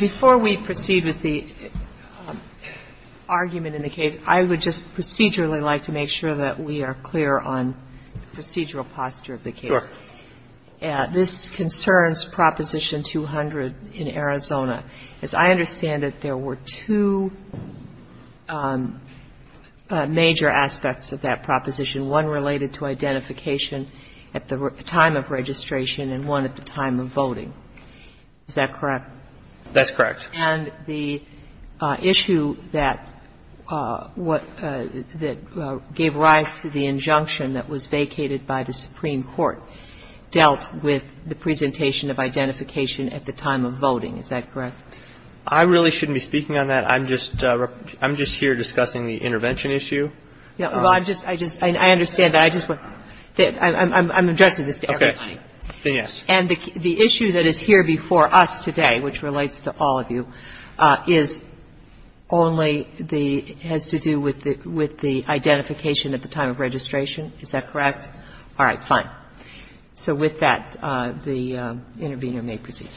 Before we proceed with the argument in the case, I would just procedurally like to make sure that we are clear on the procedural posture of the case. Sure. This concerns Proposition 200 in Arizona. As I understand it, there were two major aspects of that proposition, one related to identification at the time of registration and one at the time of voting. Is that correct? That's correct. And the issue that gave rise to the injunction that was vacated by the Supreme Court dealt with the presentation of identification at the time of voting. Is that correct? I really shouldn't be speaking on that. I'm just here discussing the intervention issue. Well, I just — I understand that. I just want — I'm addressing this to everybody. Okay. Then, yes. And the issue that is here before us today, which relates to all of you, is only the — has to do with the identification at the time of registration. Is that correct? All right. Fine. So with that, the intervener may proceed.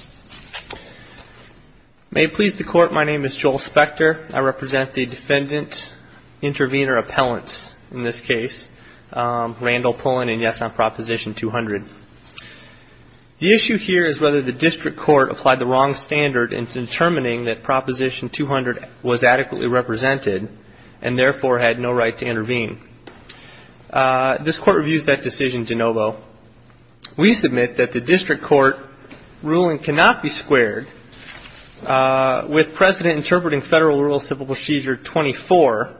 May it please the Court, my name is Joel Spector. I represent the Defendant Intervenor Appellants in this case, Randall Pullen, and yes, on Proposition 200. The issue here is whether the district court applied the wrong standard in determining that Proposition 200 was adequately represented and therefore had no right to intervene. This Court reviews that decision de novo. We submit that the district court ruling cannot be squared with precedent interpreting Federal Rural Civil Procedure 24,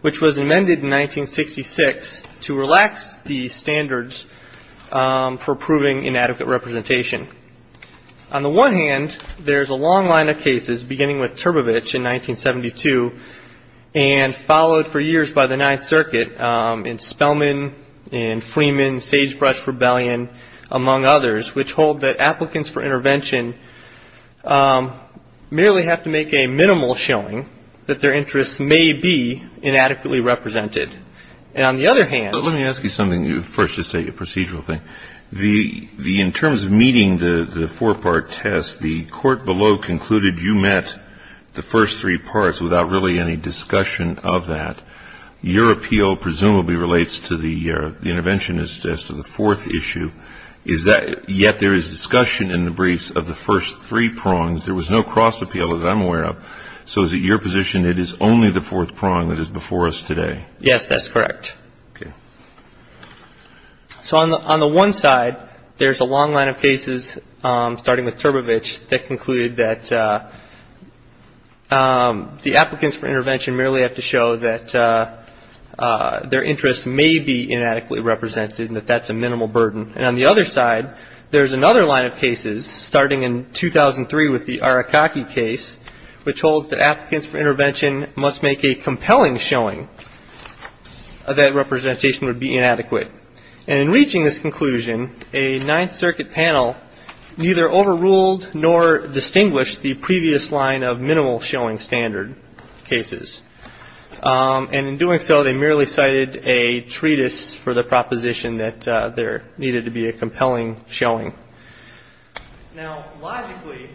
which was amended in 1966 to relax the standards for proving inadequate representation. On the one hand, there's a long line of cases beginning with Turbovich in 1972 and followed for years by the Ninth Circuit in Spellman and Freeman, Sagebrush Rebellion, among others, which hold that applicants for intervention merely have to make a minimal showing that their interests may be inadequately represented. And on the other hand — But let me ask you something first, just a procedural thing. In terms of meeting the four-part test, the court below concluded you met the first three prongs, there was no cross-appeal, as I'm aware of. So is it your position it is only the fourth prong that is before us today? Yes, that's correct. Okay. So on the one side, there's a long line of cases starting with Turbovich that concluded that the applicants for intervention merely have to show that their interests may be inadequately represented and that that's a minimal burden. And on the other side, there's another line of cases starting in 2003 with the Arakaki case, which holds that applicants for intervention must make a compelling showing that representation would be inadequate. And in reaching this conclusion, a Ninth Circuit panel neither overruled nor distinguished the previous line of minimal showing standard cases. And in doing so, they merely cited a treatise for the proposition that there needed to be a compelling showing. Now, logically,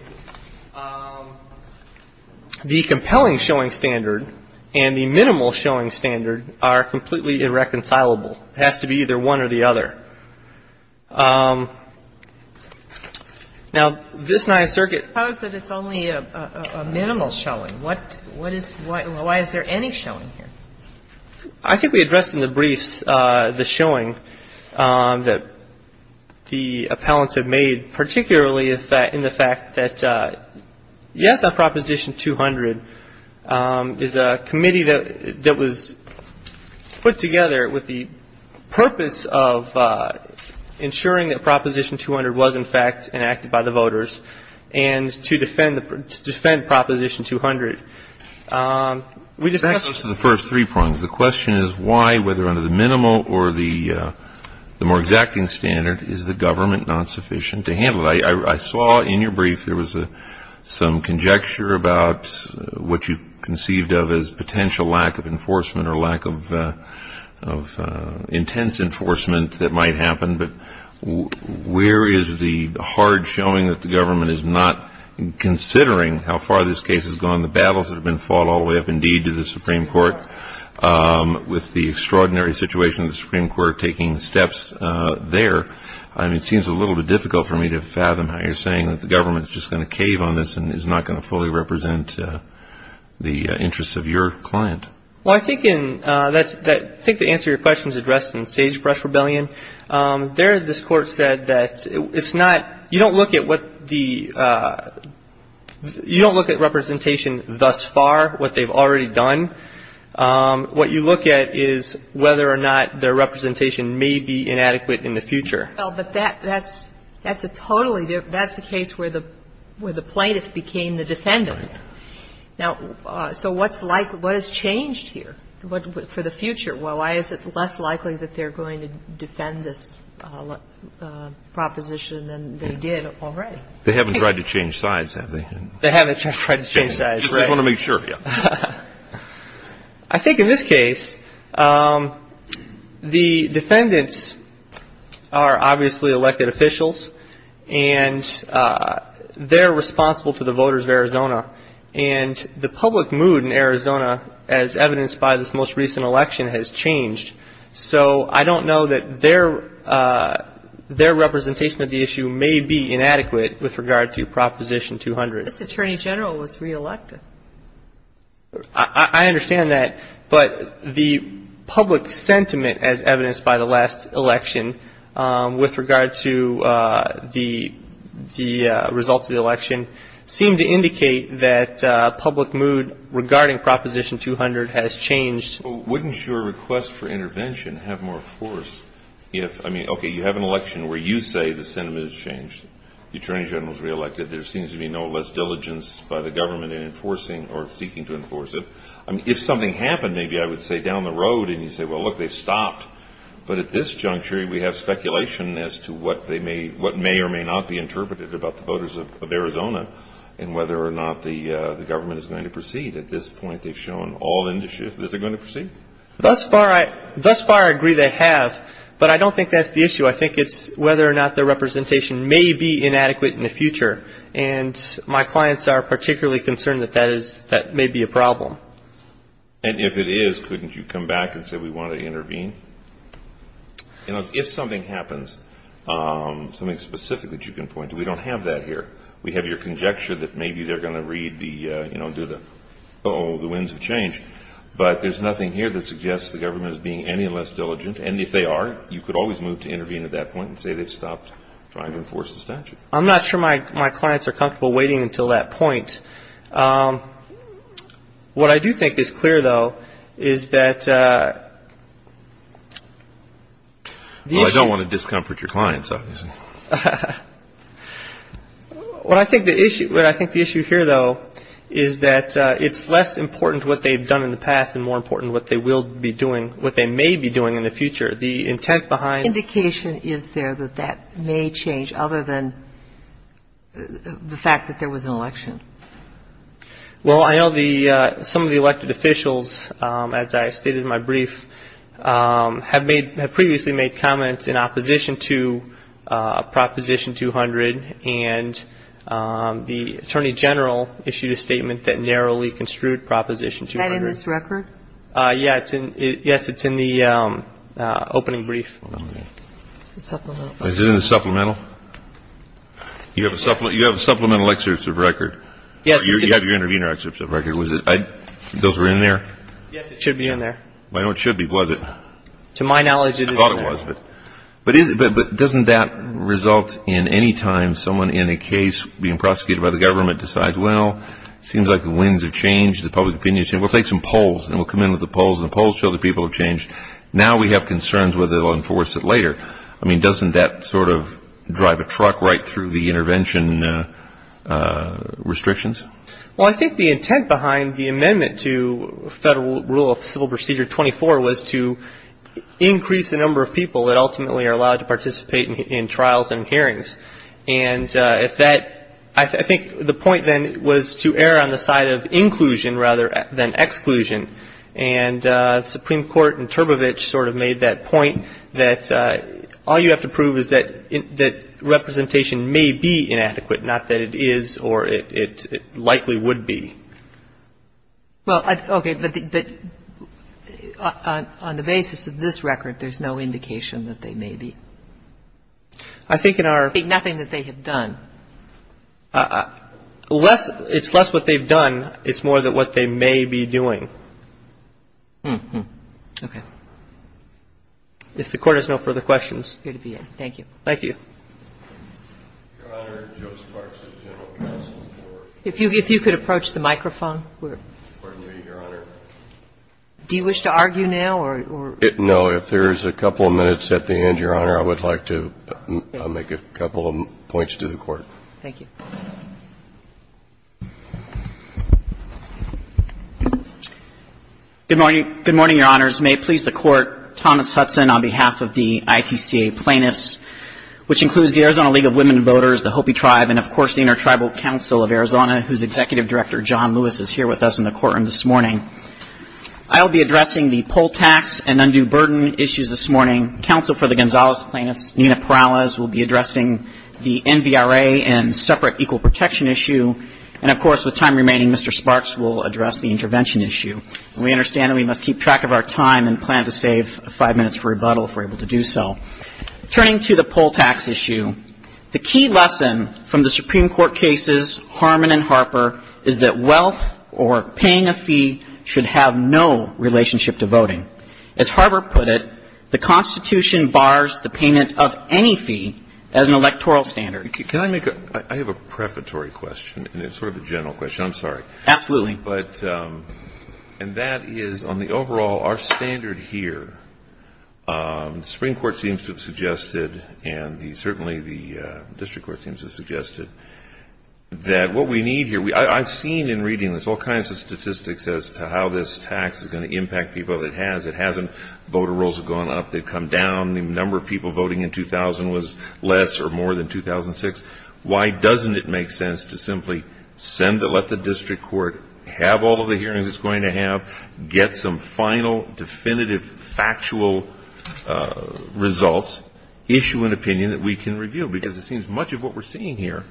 the compelling showing standard and the minimal showing standard are completely irreconcilable. It has to be either one or the other. Now, this Ninth Circuit ---- Suppose that it's only a minimal showing. What is ñ why is there any showing here? I think we addressed in the briefs the showing that the appellants have made, particularly in the fact that, yes, on Proposition 200 is a committee that was put together with the purpose of ensuring that Proposition 200 was, in fact, enacted by the voters and to defend the ñ to defend Proposition 200. We discussed ñ Back to the first three points. The question is why, whether under the minimal or the more exacting standard, is the government not sufficient to handle it? I saw in your brief there was some conjecture about what you conceived of as potential lack of enforcement or lack of intense enforcement that might happen. But where is the hard showing that the government is not considering how far this case has gone, the battles that have been fought all the way up, indeed, to the Supreme Court, with the extraordinary situation of the Supreme Court taking steps there? It seems a little bit difficult for me to fathom how you're saying that the government is just going to cave on this and is not going to fully represent the interests of your client. Well, I think in ñ I think the answer to your question is addressed in Sagebrush Rebellion. There this Court said that it's not ñ you don't look at what the ñ you don't look at representation thus far, what they've already done. What you look at is whether or not their representation may be inadequate in the future. Well, but that's a totally ñ that's a case where the plaintiff became the defendant. Right. Now, so what's like ñ what has changed here for the future? Why is it less likely that they're going to defend this proposition than they did already? They haven't tried to change sides, have they? They haven't tried to change sides, right. Just want to make sure, yeah. I think in this case, the defendants are obviously elected officials, and they're responsible to the voters of Arizona. And the public mood in Arizona, as evidenced by this most recent election, has changed. So I don't know that their representation of the issue may be inadequate with regard to Proposition 200. This Attorney General was re-elected. I understand that, but the public sentiment, as evidenced by the last election, with regard to the results of the election, seemed to indicate that public mood regarding Proposition 200 has changed. Wouldn't your request for intervention have more force if ñ I mean, okay, you have an election where you say the sentiment has changed. The Attorney General's re-elected. There seems to be no less diligence by the government in enforcing or seeking to enforce it. If something happened, maybe I would say down the road, and you say, well, look, they've stopped. But at this juncture, we have speculation as to what may or may not be interpreted about the voters of Arizona and whether or not the government is going to proceed. At this point, they've shown all that they're going to proceed. Thus far I agree they have, but I don't think that's the issue. I think it's whether or not their representation may be inadequate in the future. And my clients are particularly concerned that that is ñ that may be a problem. And if it is, couldn't you come back and say we want to intervene? You know, if something happens, something specific that you can point to, we don't have that here. We have your conjecture that maybe they're going to read the ñ you know, do the ñ the winds of change. But there's nothing here that suggests the government is being any less diligent. And if they are, you could always move to intervene at that point and say they've stopped trying to enforce the statute. I'm not sure my clients are comfortable waiting until that point. What I do think is clear, though, is that the issue ñ Well, I don't want to discomfort your clients, obviously. What I think the issue ñ what I think the issue here, though, is that it's less important what they've done in the past and more important what they will be doing ñ what they may be doing in the future. The intent behind ñ What indication is there that that may change other than the fact that there was an election? Well, I know the ñ some of the elected officials, as I stated in my brief, have made ñ have previously made comments in opposition to Proposition 200. And the Attorney General issued a statement that narrowly construed Proposition 200. Is that in this record? Yes. It's in the opening brief. Supplemental. Is it in the supplemental? You have a supplemental excerpt of record? Yes. You have your intervener excerpt of record. Was it ñ those were in there? Yes. It should be in there. Well, I know it should be. Was it? To my knowledge, it is in there. I thought it was. But doesn't that result in any time someone in a case being prosecuted by the government decides, well, it seems like the winds have changed, the public opinion has changed. We'll take some polls and we'll come in with the polls and the polls show that people have changed. Now we have concerns whether they'll enforce it later. I mean, doesn't that sort of drive a truck right through the intervention restrictions? Well, I think the intent behind the amendment to Federal Rule of Civil Procedure 24 was to increase the number of people that ultimately are allowed to participate in trials and hearings. And if that ñ I think the point then was to err on the side of inclusion rather than exclusion. And the Supreme Court in Turbovich sort of made that point that all you have to prove is that representation may be inadequate, not that it is or it likely would be. Well, okay, but on the basis of this record, there's no indication that they may be. I think in our ñ Nothing that they have done. Less ñ it's less what they've done. It's more that what they may be doing. Okay. If the Court has no further questions. Good to be in. Thank you. Thank you. Your Honor, Joseph Parks of General Counsel for ñ If you could approach the microphone. Pardon me, Your Honor. Do you wish to argue now or ñ No. If there's a couple of minutes at the end, Your Honor, I would like to make a couple of points to the Court. Thank you. Good morning. Good morning, Your Honors. May it please the Court, Thomas Hudson on behalf of the ITCA plaintiffs, which includes the Arizona League of Women Voters, the Hopi Tribe, and, of course, the Intertribal Council of Arizona, whose Executive Director, John Lewis, is here with us in the courtroom this morning. I'll be addressing the poll tax and undue burden issues this morning. Counsel for the Gonzales plaintiffs, Nina Perales, will be addressing the NVRA and separate equal protection issue. And, of course, with time remaining, Mr. Sparks will address the intervention issue. And we understand that we must keep track of our time and plan to save five minutes for rebuttal if we're able to do so. Turning to the poll tax issue, the key lesson from the Supreme Court cases, Harmon and Harper, is that wealth or paying a fee should have no relationship to voting. As Harper put it, the Constitution bars the payment of any fee as an electoral standard. Can I make a ‑‑ I have a prefatory question, and it's sort of a general question. I'm sorry. Absolutely. And that is, on the overall, our standard here, the Supreme Court seems to have suggested and certainly the district court seems to have suggested that what we need here, I've seen in reading this all kinds of statistics as to how this tax is going to impact people. It has. It hasn't. Voter rolls have gone up. They've come down. The number of people voting in 2000 was less or more than 2006. Why doesn't it make sense to simply send the ‑‑ let the district court have all of the hearings it's going to have, get some final definitive factual results, issue an opinion that we can review? Because it seems much of what we're seeing here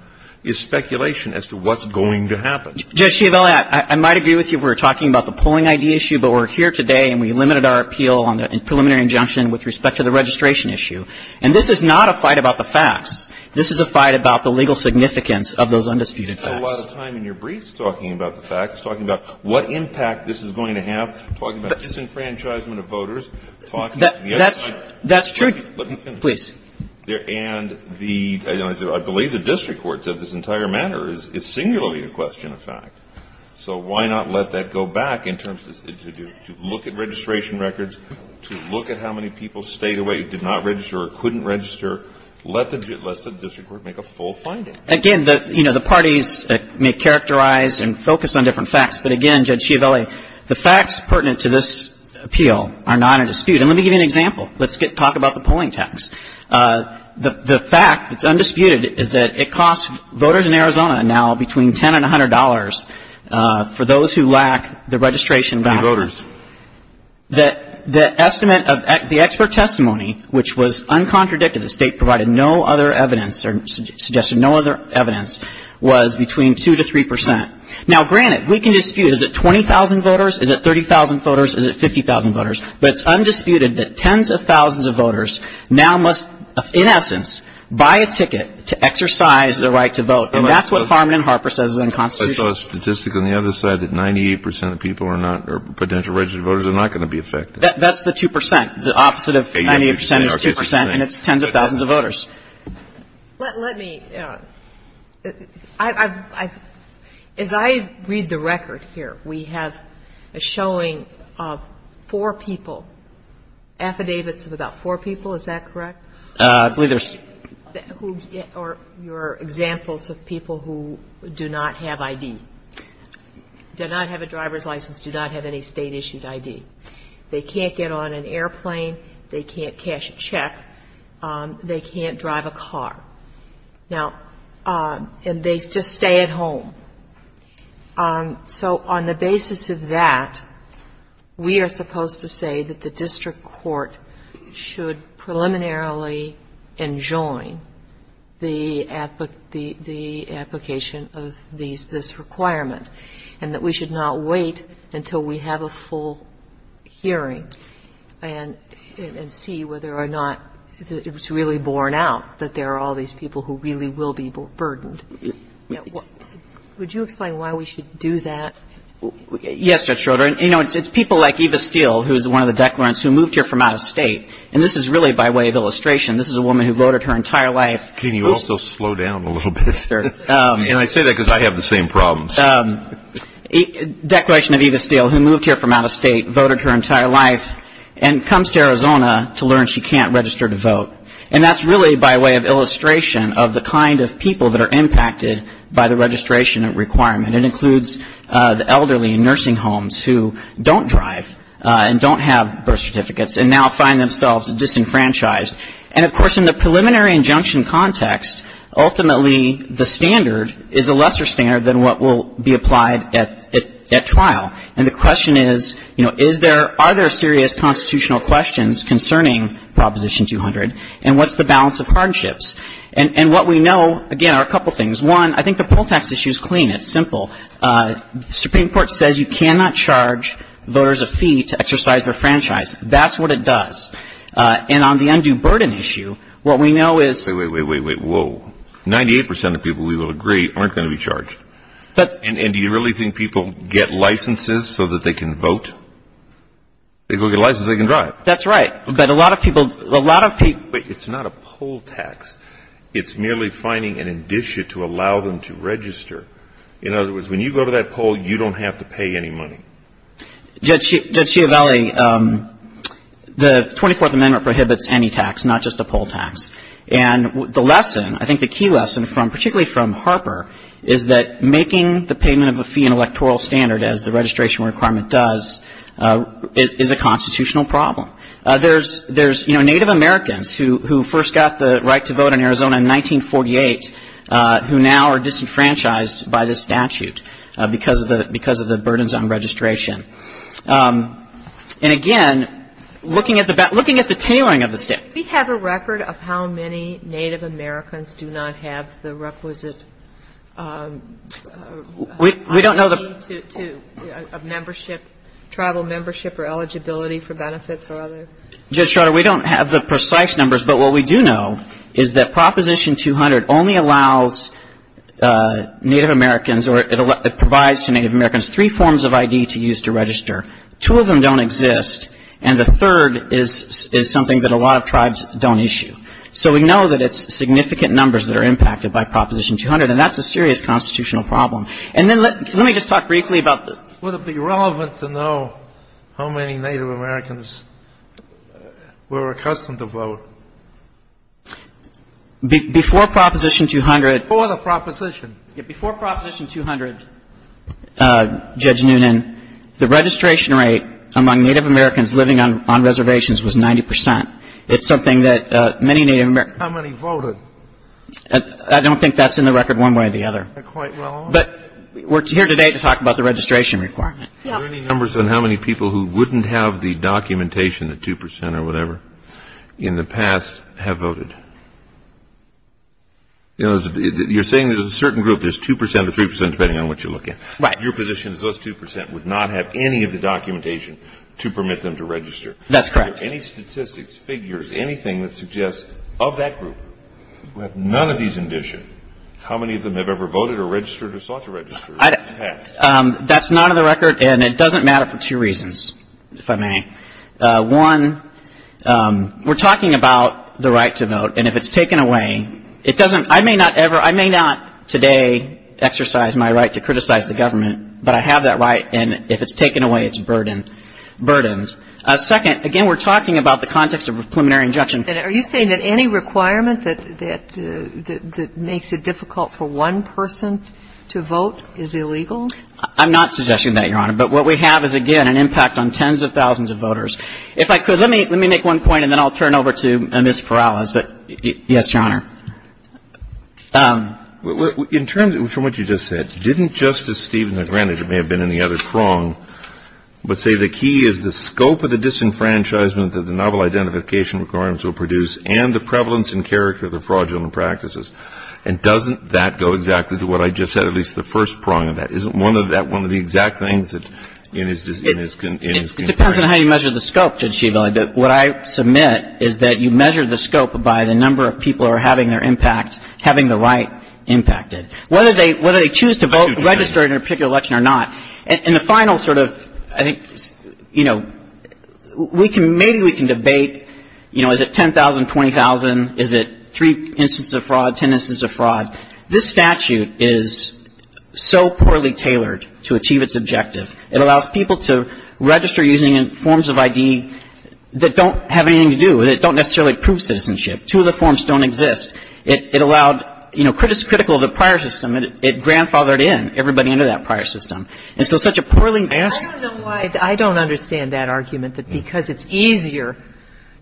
is speculation as to what's going to happen. Judge Chiavelli, I might agree with you if we were talking about the polling ID issue, but we're here today and we limited our appeal on the preliminary injunction with respect to the registration issue. And this is not a fight about the facts. This is a fight about the legal significance of those undisputed facts. You spend a lot of time in your briefs talking about the facts, talking about what impact this is going to have, talking about disenfranchisement of voters. That's true. Please. And I believe the district court said this entire matter is singularly a question of fact. So why not let that go back in terms to look at registration records, to look at how many people stayed away, did not register or couldn't register. Let the district court make a full finding. Again, you know, the parties may characterize and focus on different facts. But again, Judge Chiavelli, the facts pertinent to this appeal are not in dispute. And let me give you an example. Let's talk about the polling tax. The fact that's undisputed is that it costs voters in Arizona now between $10 and $100 for those who lack the registration background. For the voters. The estimate of the expert testimony, which was uncontradicted, the state provided no other evidence or suggested no other evidence, was between 2 to 3 percent. Now, granted, we can dispute, is it 20,000 voters? Is it 30,000 voters? Is it 50,000 voters? But it's undisputed that tens of thousands of voters now must, in essence, buy a ticket to exercise their right to vote. And that's what Farman and Harper says is unconstitutional. I saw a statistic on the other side that 98 percent of people are not or potential registered voters are not going to be affected. That's the 2 percent. The opposite of 98 percent is 2 percent, and it's tens of thousands of voters. Let me – as I read the record here, we have a showing of four people, affidavits of about four people. Is that correct? I believe there's – Or examples of people who do not have ID, do not have a driver's license, do not have any State-issued ID. They can't get on an airplane. They can't cash a check. They can't drive a car. Now – and they just stay at home. So on the basis of that, we are supposed to say that the district court should preliminarily enjoin the application of this requirement and that we should not wait until we have a full hearing and see whether or not it's really borne out that there are all these people who really will be burdened. Would you explain why we should do that? Yes, Judge Schroeder. You know, it's people like Eva Steele, who is one of the declarants, who moved here from out of State. And this is really by way of illustration. This is a woman who voted her entire life. Can you also slow down a little bit? And I say that because I have the same problems. Declaration of Eva Steele, who moved here from out of State, voted her entire life, and comes to Arizona to learn she can't register to vote. And that's really by way of illustration of the kind of people that are impacted by the registration requirement. It includes the elderly in nursing homes who don't drive and don't have birth certificates and now find themselves disenfranchised. And, of course, in the preliminary injunction context, ultimately the standard is a lesser standard than what will be applied at trial. And the question is, you know, is there or are there serious constitutional questions concerning Proposition 200? And what's the balance of hardships? And what we know, again, are a couple things. One, I think the poll tax issue is clean. It's simple. The Supreme Court says you cannot charge voters a fee to exercise their franchise. That's what it does. And on the undue burden issue, what we know is — Wait, wait, wait, whoa. 98% of people, we will agree, aren't going to be charged. And do you really think people get licenses so that they can vote? If they go get a license, they can drive. That's right. But a lot of people — But it's not a poll tax. It's merely finding an indicia to allow them to register. In other words, when you go to that poll, you don't have to pay any money. Judge Schiavelli, the 24th Amendment prohibits any tax, not just a poll tax. And the lesson, I think the key lesson, particularly from Harper, is that making the payment of a fee an electoral standard, as the registration requirement does, is a constitutional problem. There's, you know, Native Americans who first got the right to vote in Arizona in 1948 who now are disenfranchised by this statute because of the burdens on registration. And, again, looking at the tailoring of the state — Do we have a record of how many Native Americans do not have the requisite — We don't know the —— money to a membership, tribal membership or eligibility for benefits or other — Judge Schroeder, we don't have the precise numbers. But what we do know is that Proposition 200 only allows Native Americans or it provides to Native Americans three forms of ID to use to register. Two of them don't exist. And the third is something that a lot of tribes don't issue. So we know that it's significant numbers that are impacted by Proposition 200. And that's a serious constitutional problem. And then let me just talk briefly about — It's relevant to know how many Native Americans were accustomed to vote. Before Proposition 200 — Before the proposition. Before Proposition 200, Judge Noonan, the registration rate among Native Americans living on reservations was 90 percent. It's something that many Native Americans — How many voted? I don't think that's in the record one way or the other. They're quite well off. But we're here today to talk about the registration requirement. Are there any numbers on how many people who wouldn't have the documentation, the 2 percent or whatever, in the past have voted? You know, you're saying there's a certain group, there's 2 percent or 3 percent, depending on what you're looking at. Right. Your position is those 2 percent would not have any of the documentation to permit them to register. That's correct. Are there any statistics, figures, anything that suggests of that group who have none of these in addition, how many of them have ever voted or registered or sought to register in the past? That's not in the record, and it doesn't matter for two reasons, if I may. One, we're talking about the right to vote, and if it's taken away, it doesn't — I may not ever — I may not today exercise my right to criticize the government, but I have that right, and if it's taken away, it's burdened. Second, again, we're talking about the context of a preliminary injunction. And are you saying that any requirement that makes it difficult for one person to vote is illegal? I'm not suggesting that, Your Honor. But what we have is, again, an impact on tens of thousands of voters. If I could, let me make one point, and then I'll turn over to Ms. Perales. Yes, Your Honor. In terms of what you just said, didn't Justice Stevens, granted it may have been in the other But say the key is the scope of the disenfranchisement that the novel identification requirements will produce and the prevalence and character of the fraudulent practices. And doesn't that go exactly to what I just said, at least the first prong of that? Isn't one of that one of the exact things that in his — It depends on how you measure the scope, Judge Schiavone. What I submit is that you measure the scope by the number of people who are having their impact, having the right impacted. Whether they — whether they choose to vote — I do, Justice. And the final sort of, I think, you know, we can — maybe we can debate, you know, is it 10,000, 20,000? Is it three instances of fraud, ten instances of fraud? This statute is so poorly tailored to achieve its objective. It allows people to register using forms of ID that don't have anything to do with it, don't necessarily prove citizenship. Two of the forms don't exist. It allowed, you know, critical of the prior system, it grandfathered in everybody into that prior system. And so such a poorly — I don't know why — I don't understand that argument, that because it's easier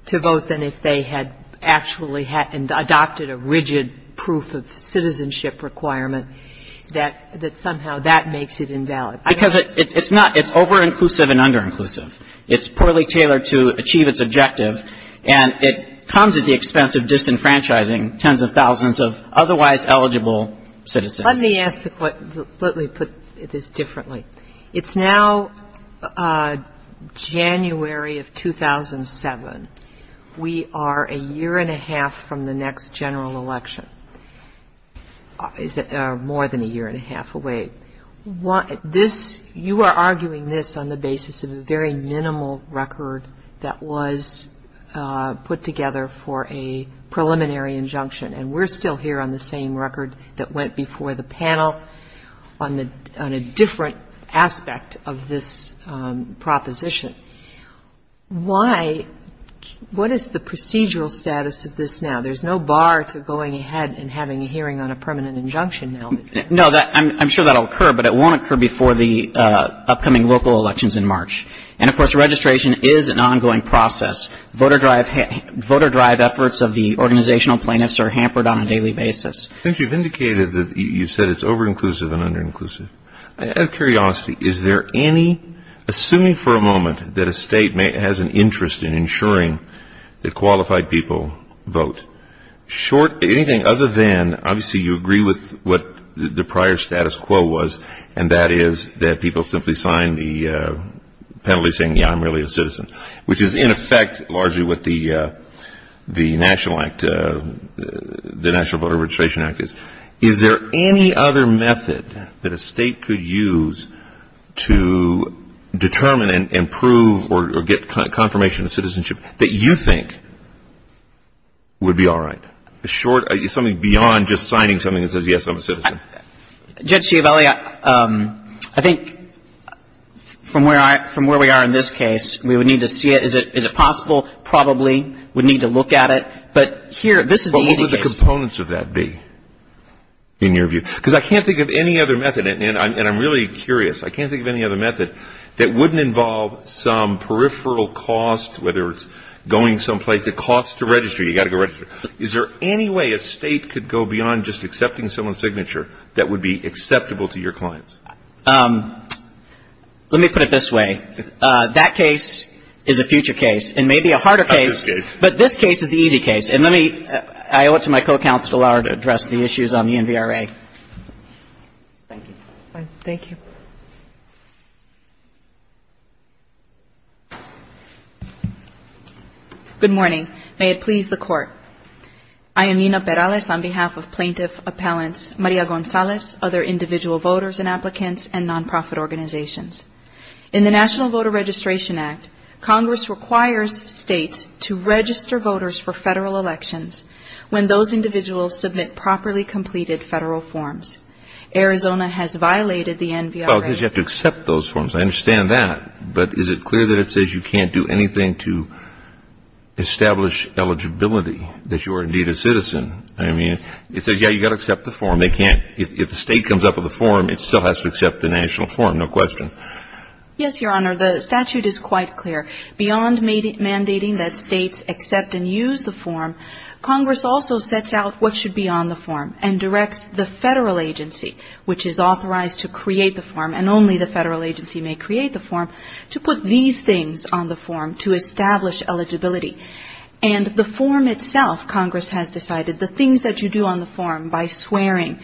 to vote than if they had actually had — and adopted a rigid proof of citizenship requirement, that somehow that makes it invalid. Because it's not — it's over-inclusive and under-inclusive. It's poorly tailored to achieve its objective, and it comes at the expense of disenfranchising tens of thousands of otherwise eligible citizens. Let me ask — let me put this differently. It's now January of 2007. We are a year and a half from the next general election, more than a year and a half away. This — you are arguing this on the basis of a very minimal record that was put together for a preliminary injunction. And we're still here on the same record that went before the panel on a different aspect of this proposition. Why — what is the procedural status of this now? There's no bar to going ahead and having a hearing on a permanent injunction now, is there? No. I'm sure that will occur, but it won't occur before the upcoming local elections in March. And, of course, registration is an ongoing process. Voter drive efforts of the organizational plaintiffs are hampered on a daily basis. Since you've indicated that — you said it's over-inclusive and under-inclusive, out of curiosity, is there any — assuming for a moment that a State has an interest in ensuring that qualified people vote, short — anything other than — obviously, you agree with what the prior status quo was, and that is that people simply sign the penalty saying, yeah, I'm really a citizen, which is, in effect, largely what the National Act — the National Voter Registration Act is. Is there any other method that a State could use to determine and prove or get confirmation of citizenship that you think would be all right? A short — something beyond just signing something that says, yes, I'm a citizen. Judge Chiavelli, I think from where we are in this case, we would need to see it. Is it possible? Probably. We'd need to look at it. But here, this is the easy case. But what would the components of that be, in your view? Because I can't think of any other method, and I'm really curious. I can't think of any other method that wouldn't involve some peripheral cost, whether it's going someplace. It costs to register. You've got to go register. Is there any way a State could go beyond just accepting someone's signature that would be acceptable to your clients? Let me put it this way. That case is a future case and may be a harder case. Not this case. But this case is the easy case. And let me — I owe it to my co-counsel, Laura, to address the issues on the NVRA. Thank you. Thank you. Good morning. May it please the Court. I am Nina Perales on behalf of Plaintiff Appellants Maria Gonzalez, other individual voters and applicants, and nonprofit organizations. In the National Voter Registration Act, Congress requires States to register voters for Federal elections when those individuals submit properly completed Federal forms. Arizona has violated the NVRA. Well, because you have to accept those forms. I understand that. But is it clear that it says you can't do anything to establish eligibility, that you are indeed a citizen? I mean, it says, yeah, you've got to accept the form. They can't — if the State comes up with a form, it still has to accept the national form. No question. Yes, Your Honor. The statute is quite clear. Beyond mandating that States accept and use the form, Congress also sets out what should be on the form and directs the Federal agency, which is authorized to create the form, and only the Federal agency may create the form, to put these things on the form to establish eligibility. And the form itself, Congress has decided, the things that you do on the form by swearing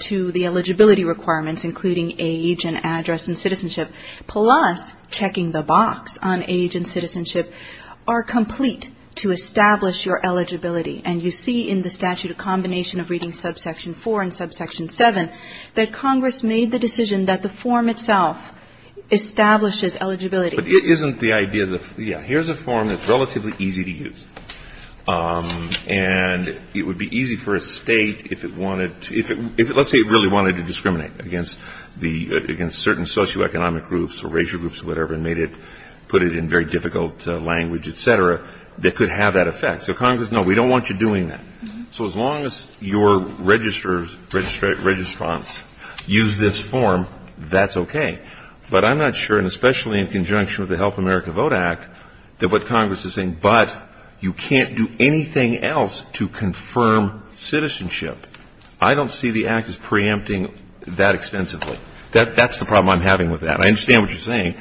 to the eligibility requirements, including age and address and citizenship, plus checking the box on age and citizenship, are complete to establish your eligibility. And you see in the statute a combination of reading subsection 4 and subsection 7, that Congress made the decision that the form itself establishes eligibility. But it isn't the idea of the — yeah, here's a form that's relatively easy to use. And it would be easy for a State, if it wanted to — if it — let's say it really wanted to discriminate against the — against certain socioeconomic groups or racial groups or whatever and made it — put it in very difficult language, et cetera, that could have that effect. So Congress, no, we don't want you doing that. So as long as your registers — registrants use this form, that's okay. But I'm not sure, and especially in conjunction with the Help America Vote Act, that what Congress is saying, but you can't do anything else to confirm citizenship. I don't see the Act as preempting that extensively. That's the problem I'm having with that. I understand what you're saying.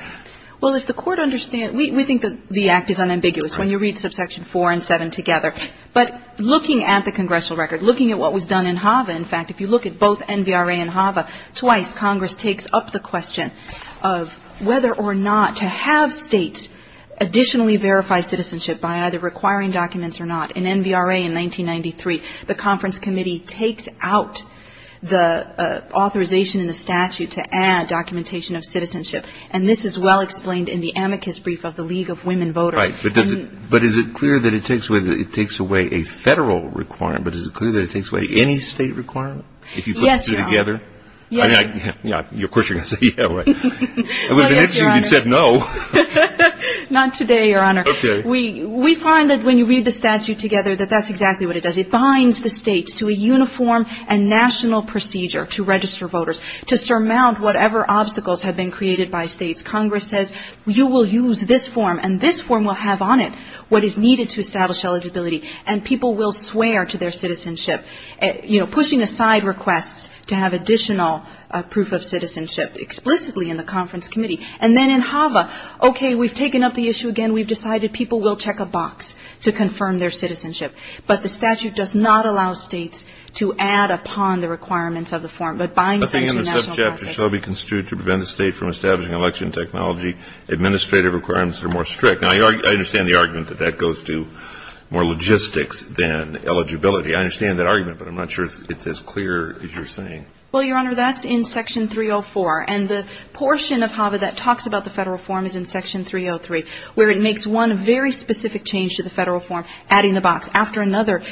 Well, if the Court understands — we think the Act is unambiguous when you read subsection 4 and 7 together. But looking at the congressional record, looking at what was done in HAVA, in fact, if you look at both NVRA and HAVA, twice Congress takes up the question of whether or not to have States additionally verify citizenship by either requiring documents or not. In NVRA in 1993, the conference committee takes out the authorization in the statute to add documentation of citizenship. And this is well explained in the amicus brief of the League of Women Voters. Right. But does it — but is it clear that it takes away — it takes away a Federal requirement, but is it clear that it takes away any State requirement? Yes, Your Honor. If you put the two together? Yes, Your Honor. Yeah, of course you're going to say yeah, right. Well, yes, Your Honor. It would have been interesting if you said no. Not today, Your Honor. Okay. We find that when you read the statute together, that that's exactly what it does. It binds the States to a uniform and national procedure to register voters, to surmount whatever obstacles have been created by States. Congress says you will use this form, and this form will have on it what is needed to establish eligibility. And people will swear to their citizenship, you know, pushing aside requests to have additional proof of citizenship explicitly in the conference committee. And then in HAVA, okay, we've taken up the issue again. We've decided people will check a box to confirm their citizenship. But the statute does not allow States to add upon the requirements of the form. It binds them to a national process. But the intercepts shall be construed to prevent a State from establishing election technology. Administrative requirements are more strict. Now, I understand the argument that that goes to more logistics than eligibility. I understand that argument, but I'm not sure it's as clear as you're saying. Well, Your Honor, that's in Section 304. And the portion of HAVA that talks about the Federal form is in Section 303, where it makes one very specific change to the Federal form, adding the box. After another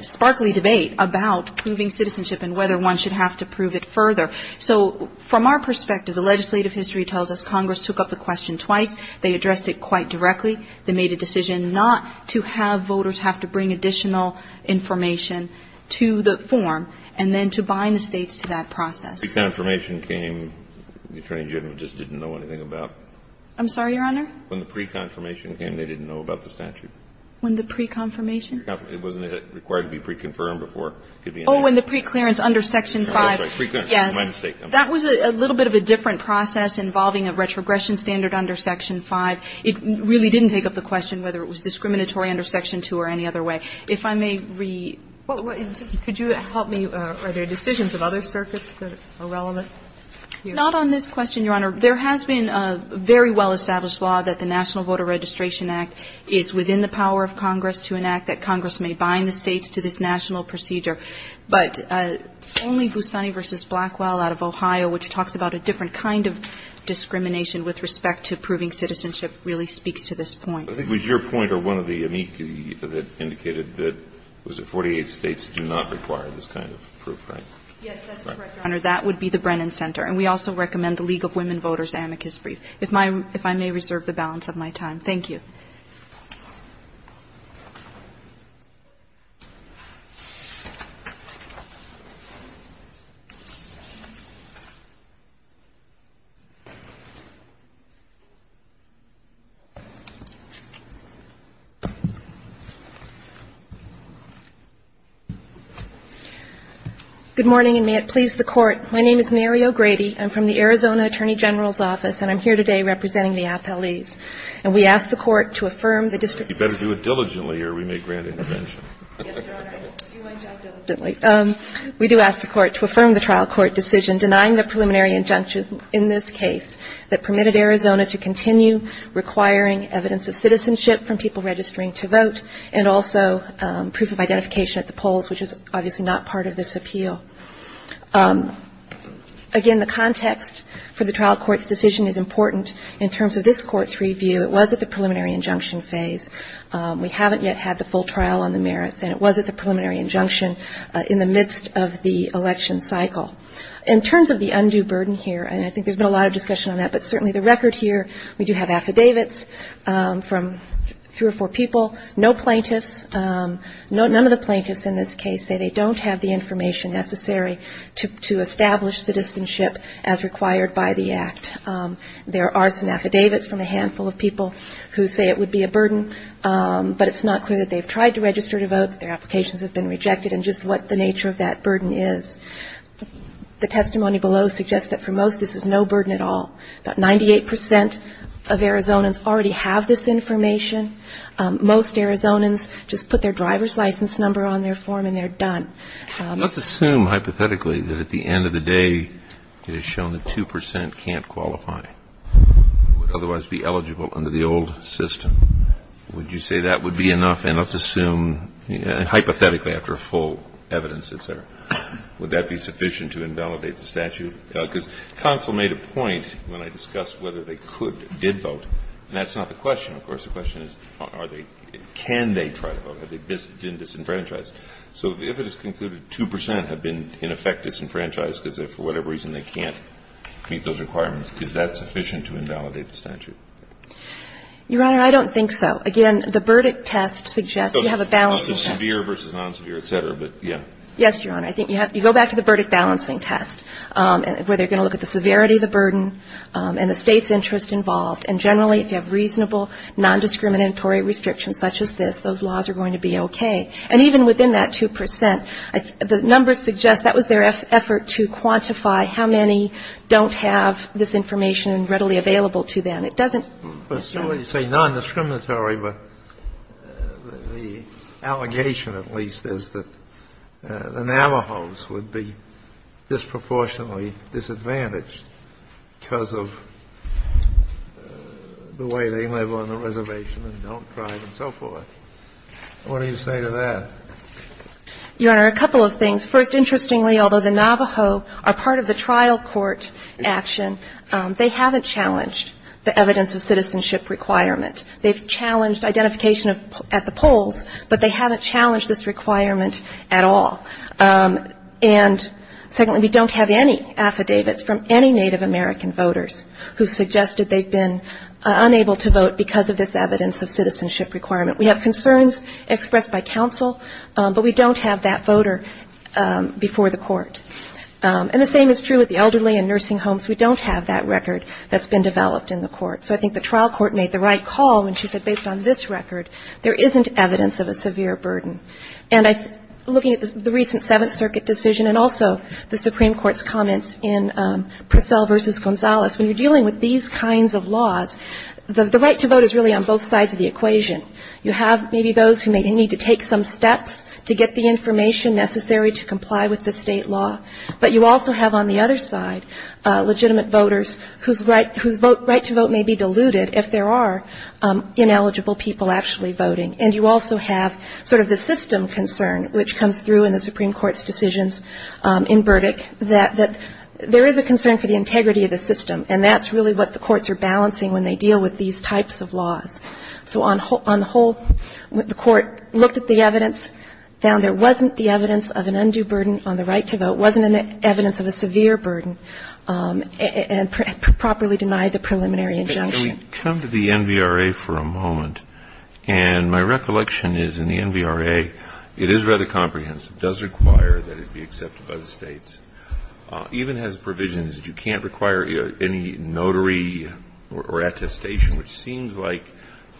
sparkly debate about proving citizenship and whether one should have to prove it further. So from our perspective, the legislative history tells us Congress took up the question twice. They addressed it quite directly. They made a decision not to have voters have to bring additional information to the form and then to bind the States to that process. When the pre-confirmation came, the Attorney General just didn't know anything about it. I'm sorry, Your Honor? When the pre-confirmation came, they didn't know about the statute. When the pre-confirmation? It wasn't required to be pre-confirmed before. Oh, in the preclearance under Section 5. Yes. That was a little bit of a different process involving a retrogression standard under Section 5. It really didn't take up the question whether it was discriminatory under Section 2 or any other way. If I may re- Could you help me? Are there decisions of other circuits that are relevant? Not on this question, Your Honor. There has been a very well-established law that the National Voter Registration Act is within the power of Congress to enact that Congress may bind the States to this national procedure. But only Bustani v. Blackwell out of Ohio, which talks about a different kind of discrimination with respect to proving citizenship, really speaks to this point. I think it was your point or one of the amici that indicated that, was it, 48 States do not require this kind of proof, right? Yes, that's correct, Your Honor. That would be the Brennan Center. And we also recommend the League of Women Voters amicus brief. If I may reserve the balance of my time. Thank you. Good morning, and may it please the Court. My name is Mary O'Grady. I'm from the Arizona Attorney General's Office, and I'm here today representing the You better do it diligently or we may grant intervention. Yes, Your Honor. We do ask the Court to affirm the trial court decision denying the preliminary injunction in this case that permitted Arizona to continue requiring evidence of citizenship from people registering to vote and also proof of identification at the polls, which is obviously not part of this appeal. Again, the context for the trial court's decision is important in terms of this court's review. It was at the preliminary injunction phase. We haven't yet had the full trial on the merits, and it was at the preliminary injunction in the midst of the election cycle. In terms of the undue burden here, and I think there's been a lot of discussion on that, but certainly the record here, we do have affidavits from three or four people, no plaintiffs. None of the plaintiffs in this case say they don't have the information necessary to establish citizenship as required by the Act. There are some affidavits from a handful of people who say it would be a burden, but it's not clear that they've tried to register to vote, that their applications have been rejected, and just what the nature of that burden is. The testimony below suggests that for most this is no burden at all. About 98 percent of Arizonans already have this information. Most Arizonans just put their driver's license number on their form and they're done. Let's assume hypothetically that at the end of the day it is shown that 2 percent can't qualify, would otherwise be eligible under the old system. Would you say that would be enough? And let's assume, hypothetically after full evidence, et cetera, would that be sufficient to invalidate the statute? Because counsel made a point when I discussed whether they could or did vote, and that's not the question. Of course, the question is can they try to vote? Have they been disenfranchised? So if it is concluded 2 percent have been in effect disenfranchised because for whatever reason they can't meet those requirements, is that sufficient to invalidate the statute? Your Honor, I don't think so. Again, the Burdick test suggests you have a balancing test. So severe versus non-severe, et cetera, but yeah. Yes, Your Honor. I think you have to go back to the Burdick balancing test, where they're going to look at the severity of the burden and the State's interest involved, and generally if you have reasonable nondiscriminatory restrictions such as this, those laws are going to be okay. And even within that 2 percent, the numbers suggest that was their effort to quantify how many don't have this information readily available to them. Yes, Your Honor. But certainly you say nondiscriminatory, but the allegation at least is that the Navajos would be disproportionately disadvantaged because of the way they live on the reservation and don't drive and so forth. What do you say to that? Your Honor, a couple of things. First, interestingly, although the Navajo are part of the trial court action, they haven't challenged the evidence of citizenship requirement. They've challenged identification at the polls, but they haven't challenged this requirement at all. And secondly, we don't have any affidavits from any Native American voters who suggested they've been unable to vote because of this evidence of citizenship requirement. We have concerns expressed by counsel, but we don't have that voter before the court. And the same is true with the elderly and nursing homes. We don't have that record that's been developed in the court. So I think the trial court made the right call when she said based on this record, there isn't evidence of a severe burden. And looking at the recent Seventh Circuit decision and also the Supreme Court's comments in Purcell v. Gonzalez, when you're dealing with these kinds of laws, the right to vote is really on both sides of the equation. You have maybe those who may need to take some steps to get the information necessary to comply with the state law, but you also have on the other side legitimate voters whose right to vote may be diluted if there are ineligible people actually voting. And you also have sort of the system concern, which comes through in the Supreme Court's decisions in Burdick, that there is a concern for the integrity of the system. And that's really what the courts are balancing when they deal with these types of laws. So on the whole, the court looked at the evidence, found there wasn't the evidence of an undue burden on the right to vote, wasn't evidence of a severe burden, and properly denied the preliminary injunction. Kennedy. Can we come to the NVRA for a moment? And my recollection is in the NVRA, it is rather comprehensive, does require that it be accepted by the states, even has provisions that you can't require any notary or attestation, which seems like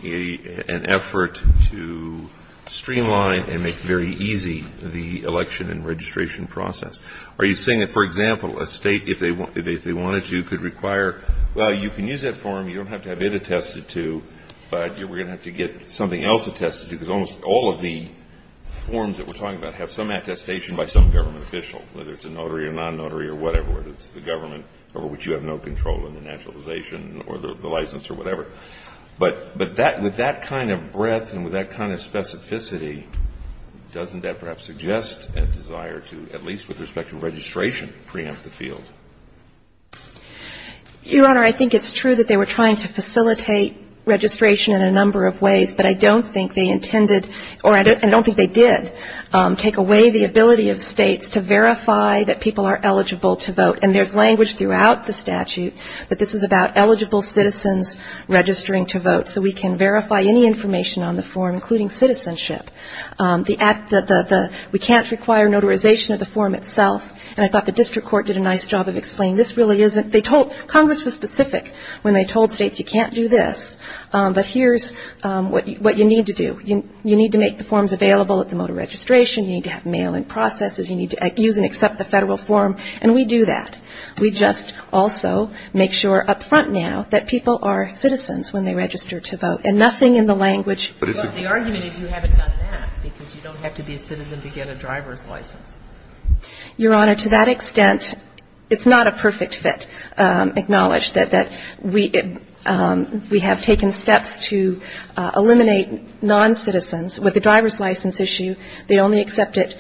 an effort to streamline and make very easy the election and registration process. Are you saying that, for example, a state, if they wanted to, could require, well, you can use that form, you don't have to have it attested to, but we're going to have to get something else attested to, because almost all of the forms that we're talking about have some attestation by some government official, whether it's a notary or non-notary or whatever, whether it's the government over which you have no control in the naturalization or the license or whatever. But with that kind of breadth and with that kind of specificity, doesn't that perhaps suggest a desire to, at least with respect to registration, preempt the field? Your Honor, I think it's true that they were trying to facilitate registration in a number of ways, but I don't think they intended, or I don't think they did, take away the ability of states to verify that people are eligible to vote. And there's language throughout the statute that this is about eligible citizens registering to vote, so we can verify any information on the form, including citizenship. We can't require notarization of the form itself. And I thought the district court did a nice job of explaining this really isn't they told, Congress was specific when they told states you can't do this, but here's what you need to do. You need to make the forms available at the mode of registration. You need to have mail-in processes. You need to use and accept the Federal form. And we do that. We just also make sure up front now that people are citizens when they register to vote, and nothing in the language. But the argument is you haven't done that, because you don't have to be a citizen to get a driver's license. Your Honor, to that extent, it's not a perfect fit acknowledged that we have taken steps to eliminate noncitizens with the driver's license issue. They only accepted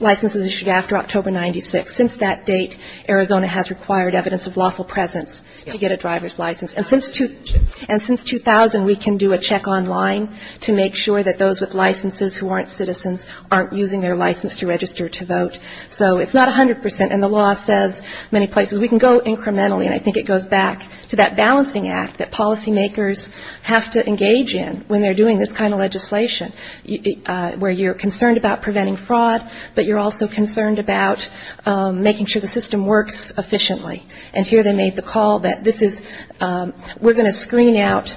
licenses issued after October 96. Since that date, Arizona has required evidence of lawful presence to get a driver's license. And since 2000, we can do a check online to make sure that those with licenses who aren't citizens aren't using their license to register to vote. So it's not 100 percent, and the law says many places we can go incrementally, and I think it goes back to that balancing act that policymakers have to engage in when they're doing this kind of legislation. Where you're concerned about preventing fraud, but you're also concerned about making sure the system works efficiently. And here they made the call that this is we're going to screen out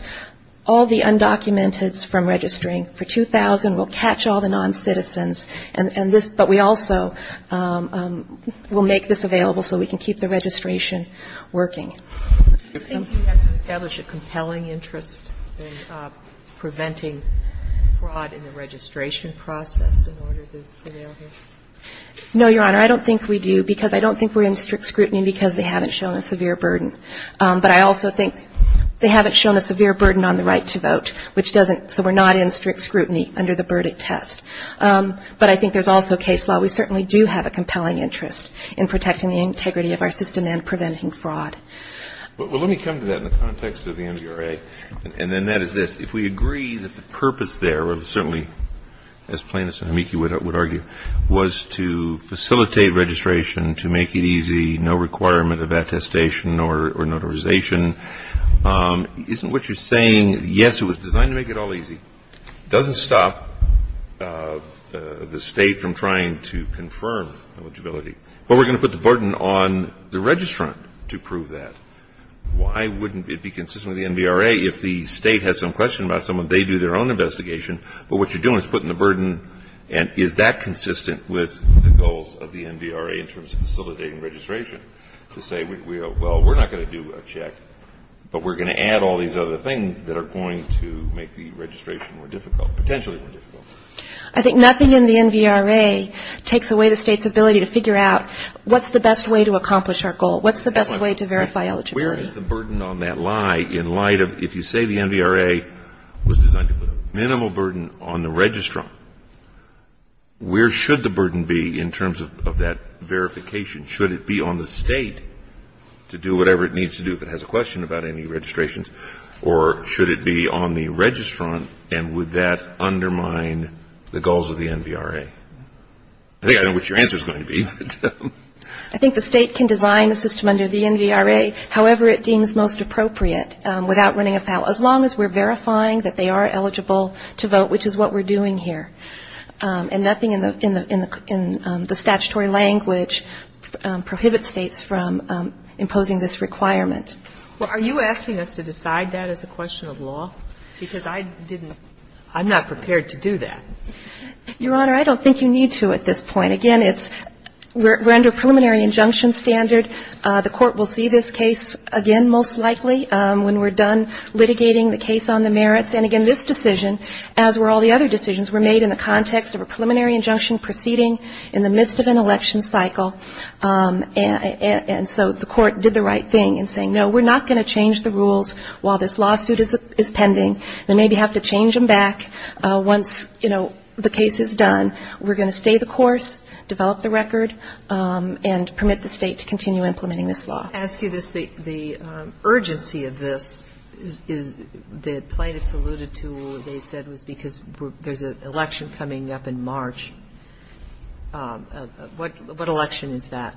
all the undocumented from registering for 2000. We'll catch all the noncitizens. And this, but we also will make this available so we can keep the registration working. Do you think you have to establish a compelling interest in preventing fraud in the registration process in order to prevail here? No, Your Honor. I don't think we do, because I don't think we're in strict scrutiny because they haven't shown a severe burden. But I also think they haven't shown a severe burden on the right to vote, which doesn't so we're not in strict scrutiny under the verdict test. But I think there's also case law. We certainly do have a compelling interest in protecting the integrity of our system and preventing fraud. Well, let me come to that in the context of the NBRA. And then that is this. If we agree that the purpose there, certainly as plaintiffs and amici would argue, was to facilitate registration, to make it easy, no requirement of attestation or notarization, isn't what you're saying, yes, it was designed to make it all easy. It doesn't stop the state from trying to confirm eligibility. But we're going to put the burden on the registrant to prove that. Why wouldn't it be consistent with the NBRA if the state has some question about someone, they do their own investigation, but what you're doing is putting the burden, and is that consistent with the goals of the NBRA in terms of facilitating registration, to say, well, we're not going to do a check, but we're going to add all these other things that are going to make the registration more difficult, potentially more difficult. I think nothing in the NBRA takes away the state's ability to figure out what's the best way to accomplish our goal, what's the best way to verify eligibility. Where is the burden on that lie in light of if you say the NBRA was designed to put a minimal burden on the registrant, where should the burden be in terms of that verification? Should it be on the state to do whatever it needs to do if it has a question about any registrations, or should it be on the registrant, and would that be the goals of the NBRA? I think I know what your answer is going to be. I think the state can design the system under the NBRA however it deems most appropriate without running afoul, as long as we're verifying that they are eligible to vote, which is what we're doing here. And nothing in the statutory language prohibits states from imposing this requirement. Well, are you asking us to decide that as a question of law? Because I didn't, I'm not prepared to do that. Your Honor, I don't think you need to at this point. Again, we're under a preliminary injunction standard. The court will see this case again most likely when we're done litigating the case on the merits. And again, this decision, as were all the other decisions, were made in the context of a preliminary injunction proceeding in the midst of an election cycle. And so the court did the right thing in saying, no, we're not going to change the rules while this lawsuit is pending. They maybe have to change them back once, you know, the case is done. We're going to stay the course, develop the record, and permit the state to continue implementing this law. I ask you this. The urgency of this is the plaintiffs alluded to, they said, was because there's an election coming up in March. What election is that?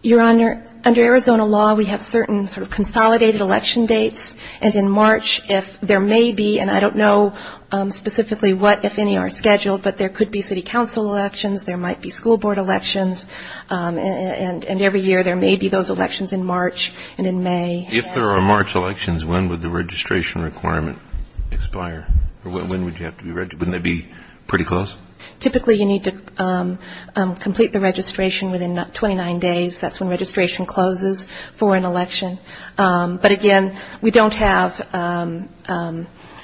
Your Honor, under Arizona law, we have certain sort of consolidated election dates, and in March, if there may be, and I don't know specifically what, if any, are scheduled, but there could be city council elections, there might be school board elections, and every year there may be those elections in March and in May. If there are March elections, when would the registration requirement expire? Or when would you have to be registered? Wouldn't that be pretty close? Typically, you need to complete the registration within 29 days. That's when registration closes for an election. But, again, we don't have,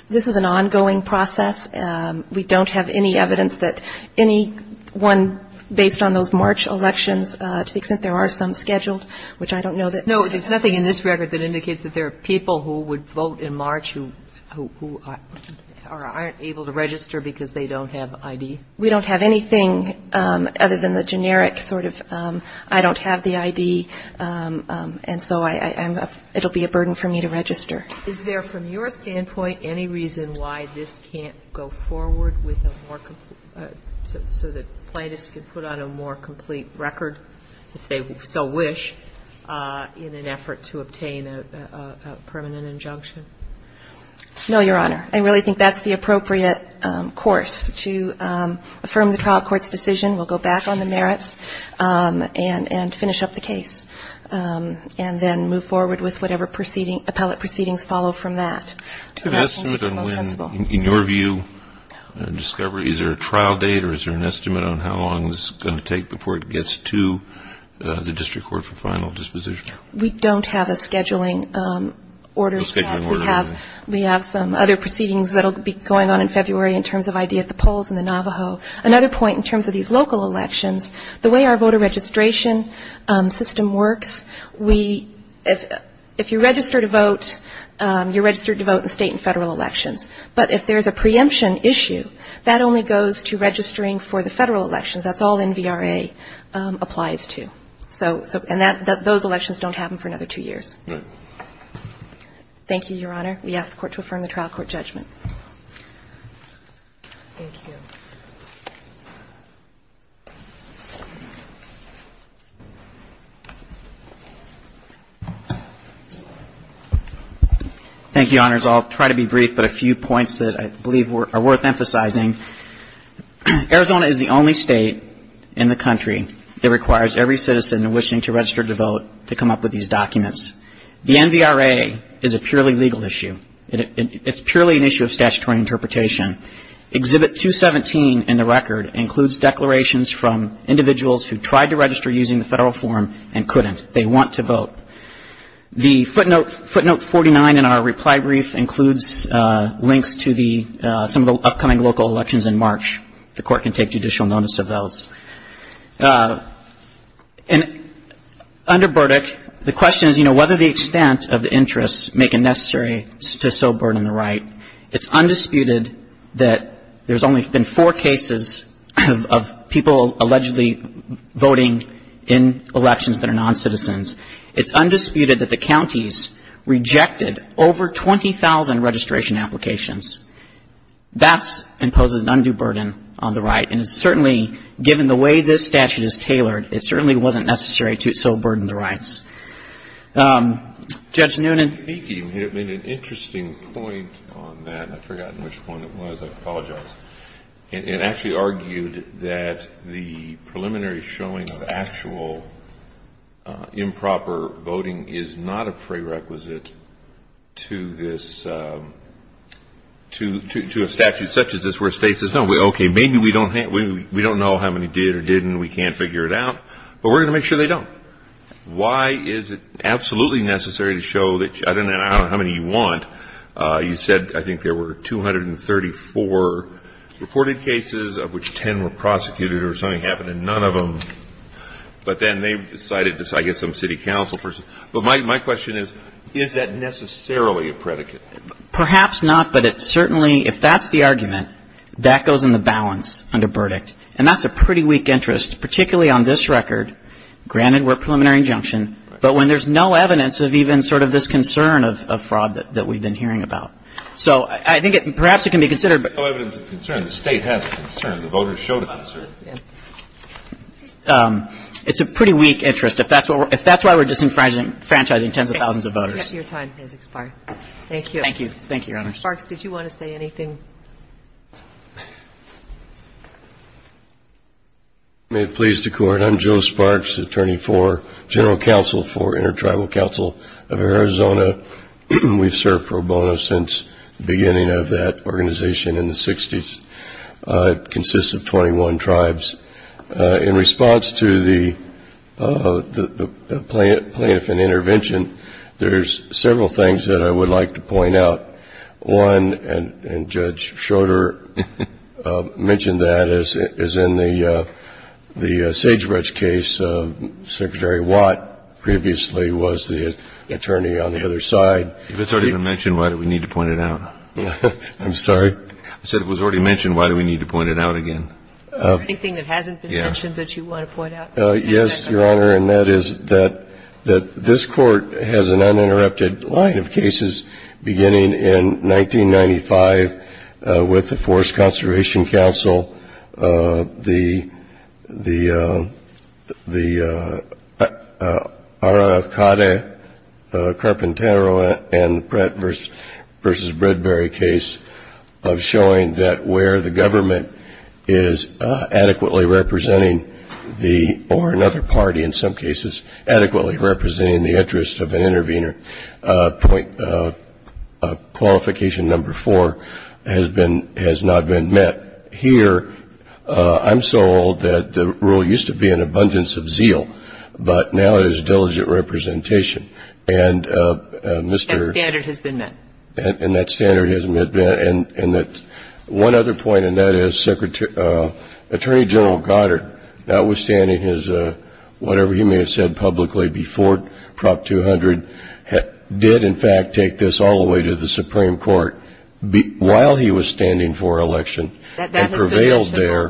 this is an ongoing process. We don't have any evidence that anyone, based on those March elections, to the extent there are some scheduled, which I don't know that. No, there's nothing in this record that indicates that there are people who would vote in March who aren't able to register because they don't have ID? We don't have anything other than the generic sort of I don't have the ID, and so I don't have the registration. So, again, it's a burden for me to register. Is there, from your standpoint, any reason why this can't go forward with a more complete, so that plaintiffs can put on a more complete record, if they so wish, in an effort to obtain a permanent injunction? No, Your Honor. I really think that's the appropriate course to affirm the trial court's decision. We'll go back on the merits and finish up the case, and then move forward with whatever appellate proceedings follow from that. In your view, discovery, is there a trial date or is there an estimate on how long this is going to take before it gets to the district court for final disposition? We don't have a scheduling order set. We have some other proceedings that will be going on in February in terms of ID at the polls in the Navajo. Another point in terms of these local elections, the way our voter registration system works, we, if you register to vote, you're registered to vote in State and Federal elections. But if there's a preemption issue, that only goes to registering for the Federal elections. That's all NVRA applies to. So, and those elections don't happen for another two years. Thank you, Your Honor. We ask the Court to affirm the trial court judgment. Thank you. Thank you, Your Honors. I'll try to be brief, but a few points that I believe are worth emphasizing. Arizona is the only State in the country that requires every citizen wishing to register to vote to come up with these documents. The NVRA is a purely legal issue. It's purely an issue of statutory interpretation. Exhibit 217 in the record includes declarations from individuals who tried to register using the Federal form and couldn't. They want to vote. The footnote 49 in our reply brief includes links to some of the upcoming local elections in March. The Court can take judicial notice of those. And under Burdick, the question is, you know, whether the extent of the interests make it necessary to so burden the right. It's undisputed that there's only been four cases of people allegedly voting in elections that are noncitizens. It's undisputed that the counties rejected over 20,000 registration applications. That imposes an undue burden on the right. And it's certainly, given the way this statute is tailored, it certainly wasn't necessary to so burden the rights. Judge Noonan. Thank you. You made an interesting point on that. I've forgotten which one it was. I apologize. It actually argued that the preliminary showing of actual improper voting is not a prerequisite to this, to a statute such as this where the State says, no, okay, maybe we don't know how many did or didn't. We can't figure it out. But we're going to make sure they don't. But why is it absolutely necessary to show that I don't know how many you want. You said I think there were 234 reported cases of which 10 were prosecuted or something happened and none of them. But then they decided to, I guess, some city council person. But my question is, is that necessarily a predicate? Perhaps not. But it certainly, if that's the argument, that goes in the balance under verdict. And that's a pretty weak interest, particularly on this record. Granted, we're preliminary injunction. But when there's no evidence of even sort of this concern of fraud that we've been hearing about. So I think perhaps it can be considered. No evidence of concern. The State has a concern. The voters show the concern. It's a pretty weak interest if that's why we're disenfranchising tens of thousands of voters. Your time has expired. Thank you. Thank you. Thank you, Your Honors. Mr. Sparks, did you want to say anything? May it please the Court. I'm Joe Sparks, Attorney for General Counsel for Intertribal Council of Arizona. We've served pro bono since the beginning of that organization in the 60s. It consists of 21 tribes. In response to the plaintiff and intervention, there's several things that I would like to point out. One, and Judge Schroeder mentioned that, is in the Sagebridge case, Secretary Watt previously was the attorney on the other side. If it's already been mentioned, why do we need to point it out? I'm sorry? I said if it was already mentioned, why do we need to point it out again? Is there anything that hasn't been mentioned that you want to point out? Yes, Your Honor, and that is that this Court has an uninterrupted line of cases beginning in 1995 with the Forest Conservation Council, the Arakata, Carpintero, and Pratt v. Bradbury case of showing that where the government is adequately representing the interest of an intervener. Qualification number four has not been met. Here, I'm so old that the rule used to be an abundance of zeal, but now it is diligent representation. And Mr. That standard has been met. And that standard has been met. One other point, and that is Attorney General Goddard, notwithstanding his whatever he may have said publicly before Prop 200, did in fact take this all the way to the Supreme Court while he was standing for election and prevailed there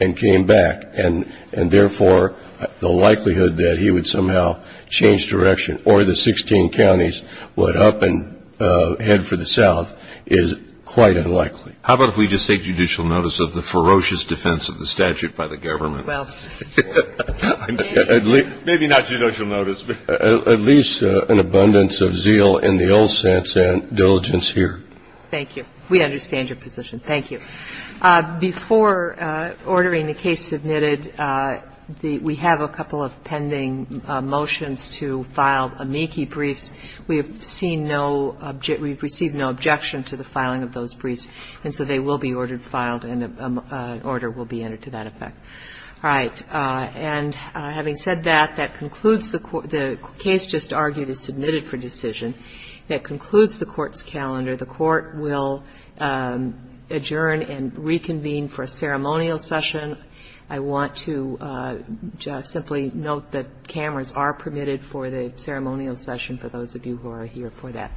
and came back. And therefore, the likelihood that he would somehow change direction or the 16 counties would up and head for the South is quite unlikely. How about if we just take judicial notice of the ferocious defense of the statute by the government? Well, maybe not judicial notice, but at least an abundance of zeal in the old sense and diligence here. Thank you. We understand your position. Thank you. Before ordering the case submitted, we have a couple of pending motions to file amici briefs. We have seen no objection to the filing of those briefs, and so they will be ordered, filed, and an order will be entered to that effect. All right. And having said that, that concludes the court the case just argued is submitted for decision. That concludes the Court's calendar. The Court will adjourn and reconvene for a ceremonial session. I want to simply note that cameras are permitted for the ceremonial session for those of you who are here for that.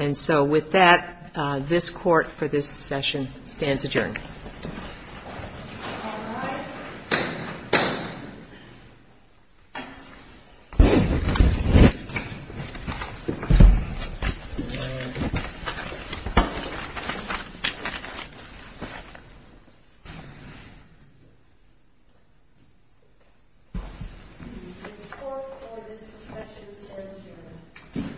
And so with that, this Court for this session stands adjourned. All rise. This Court for this session stands adjourned. Thank you.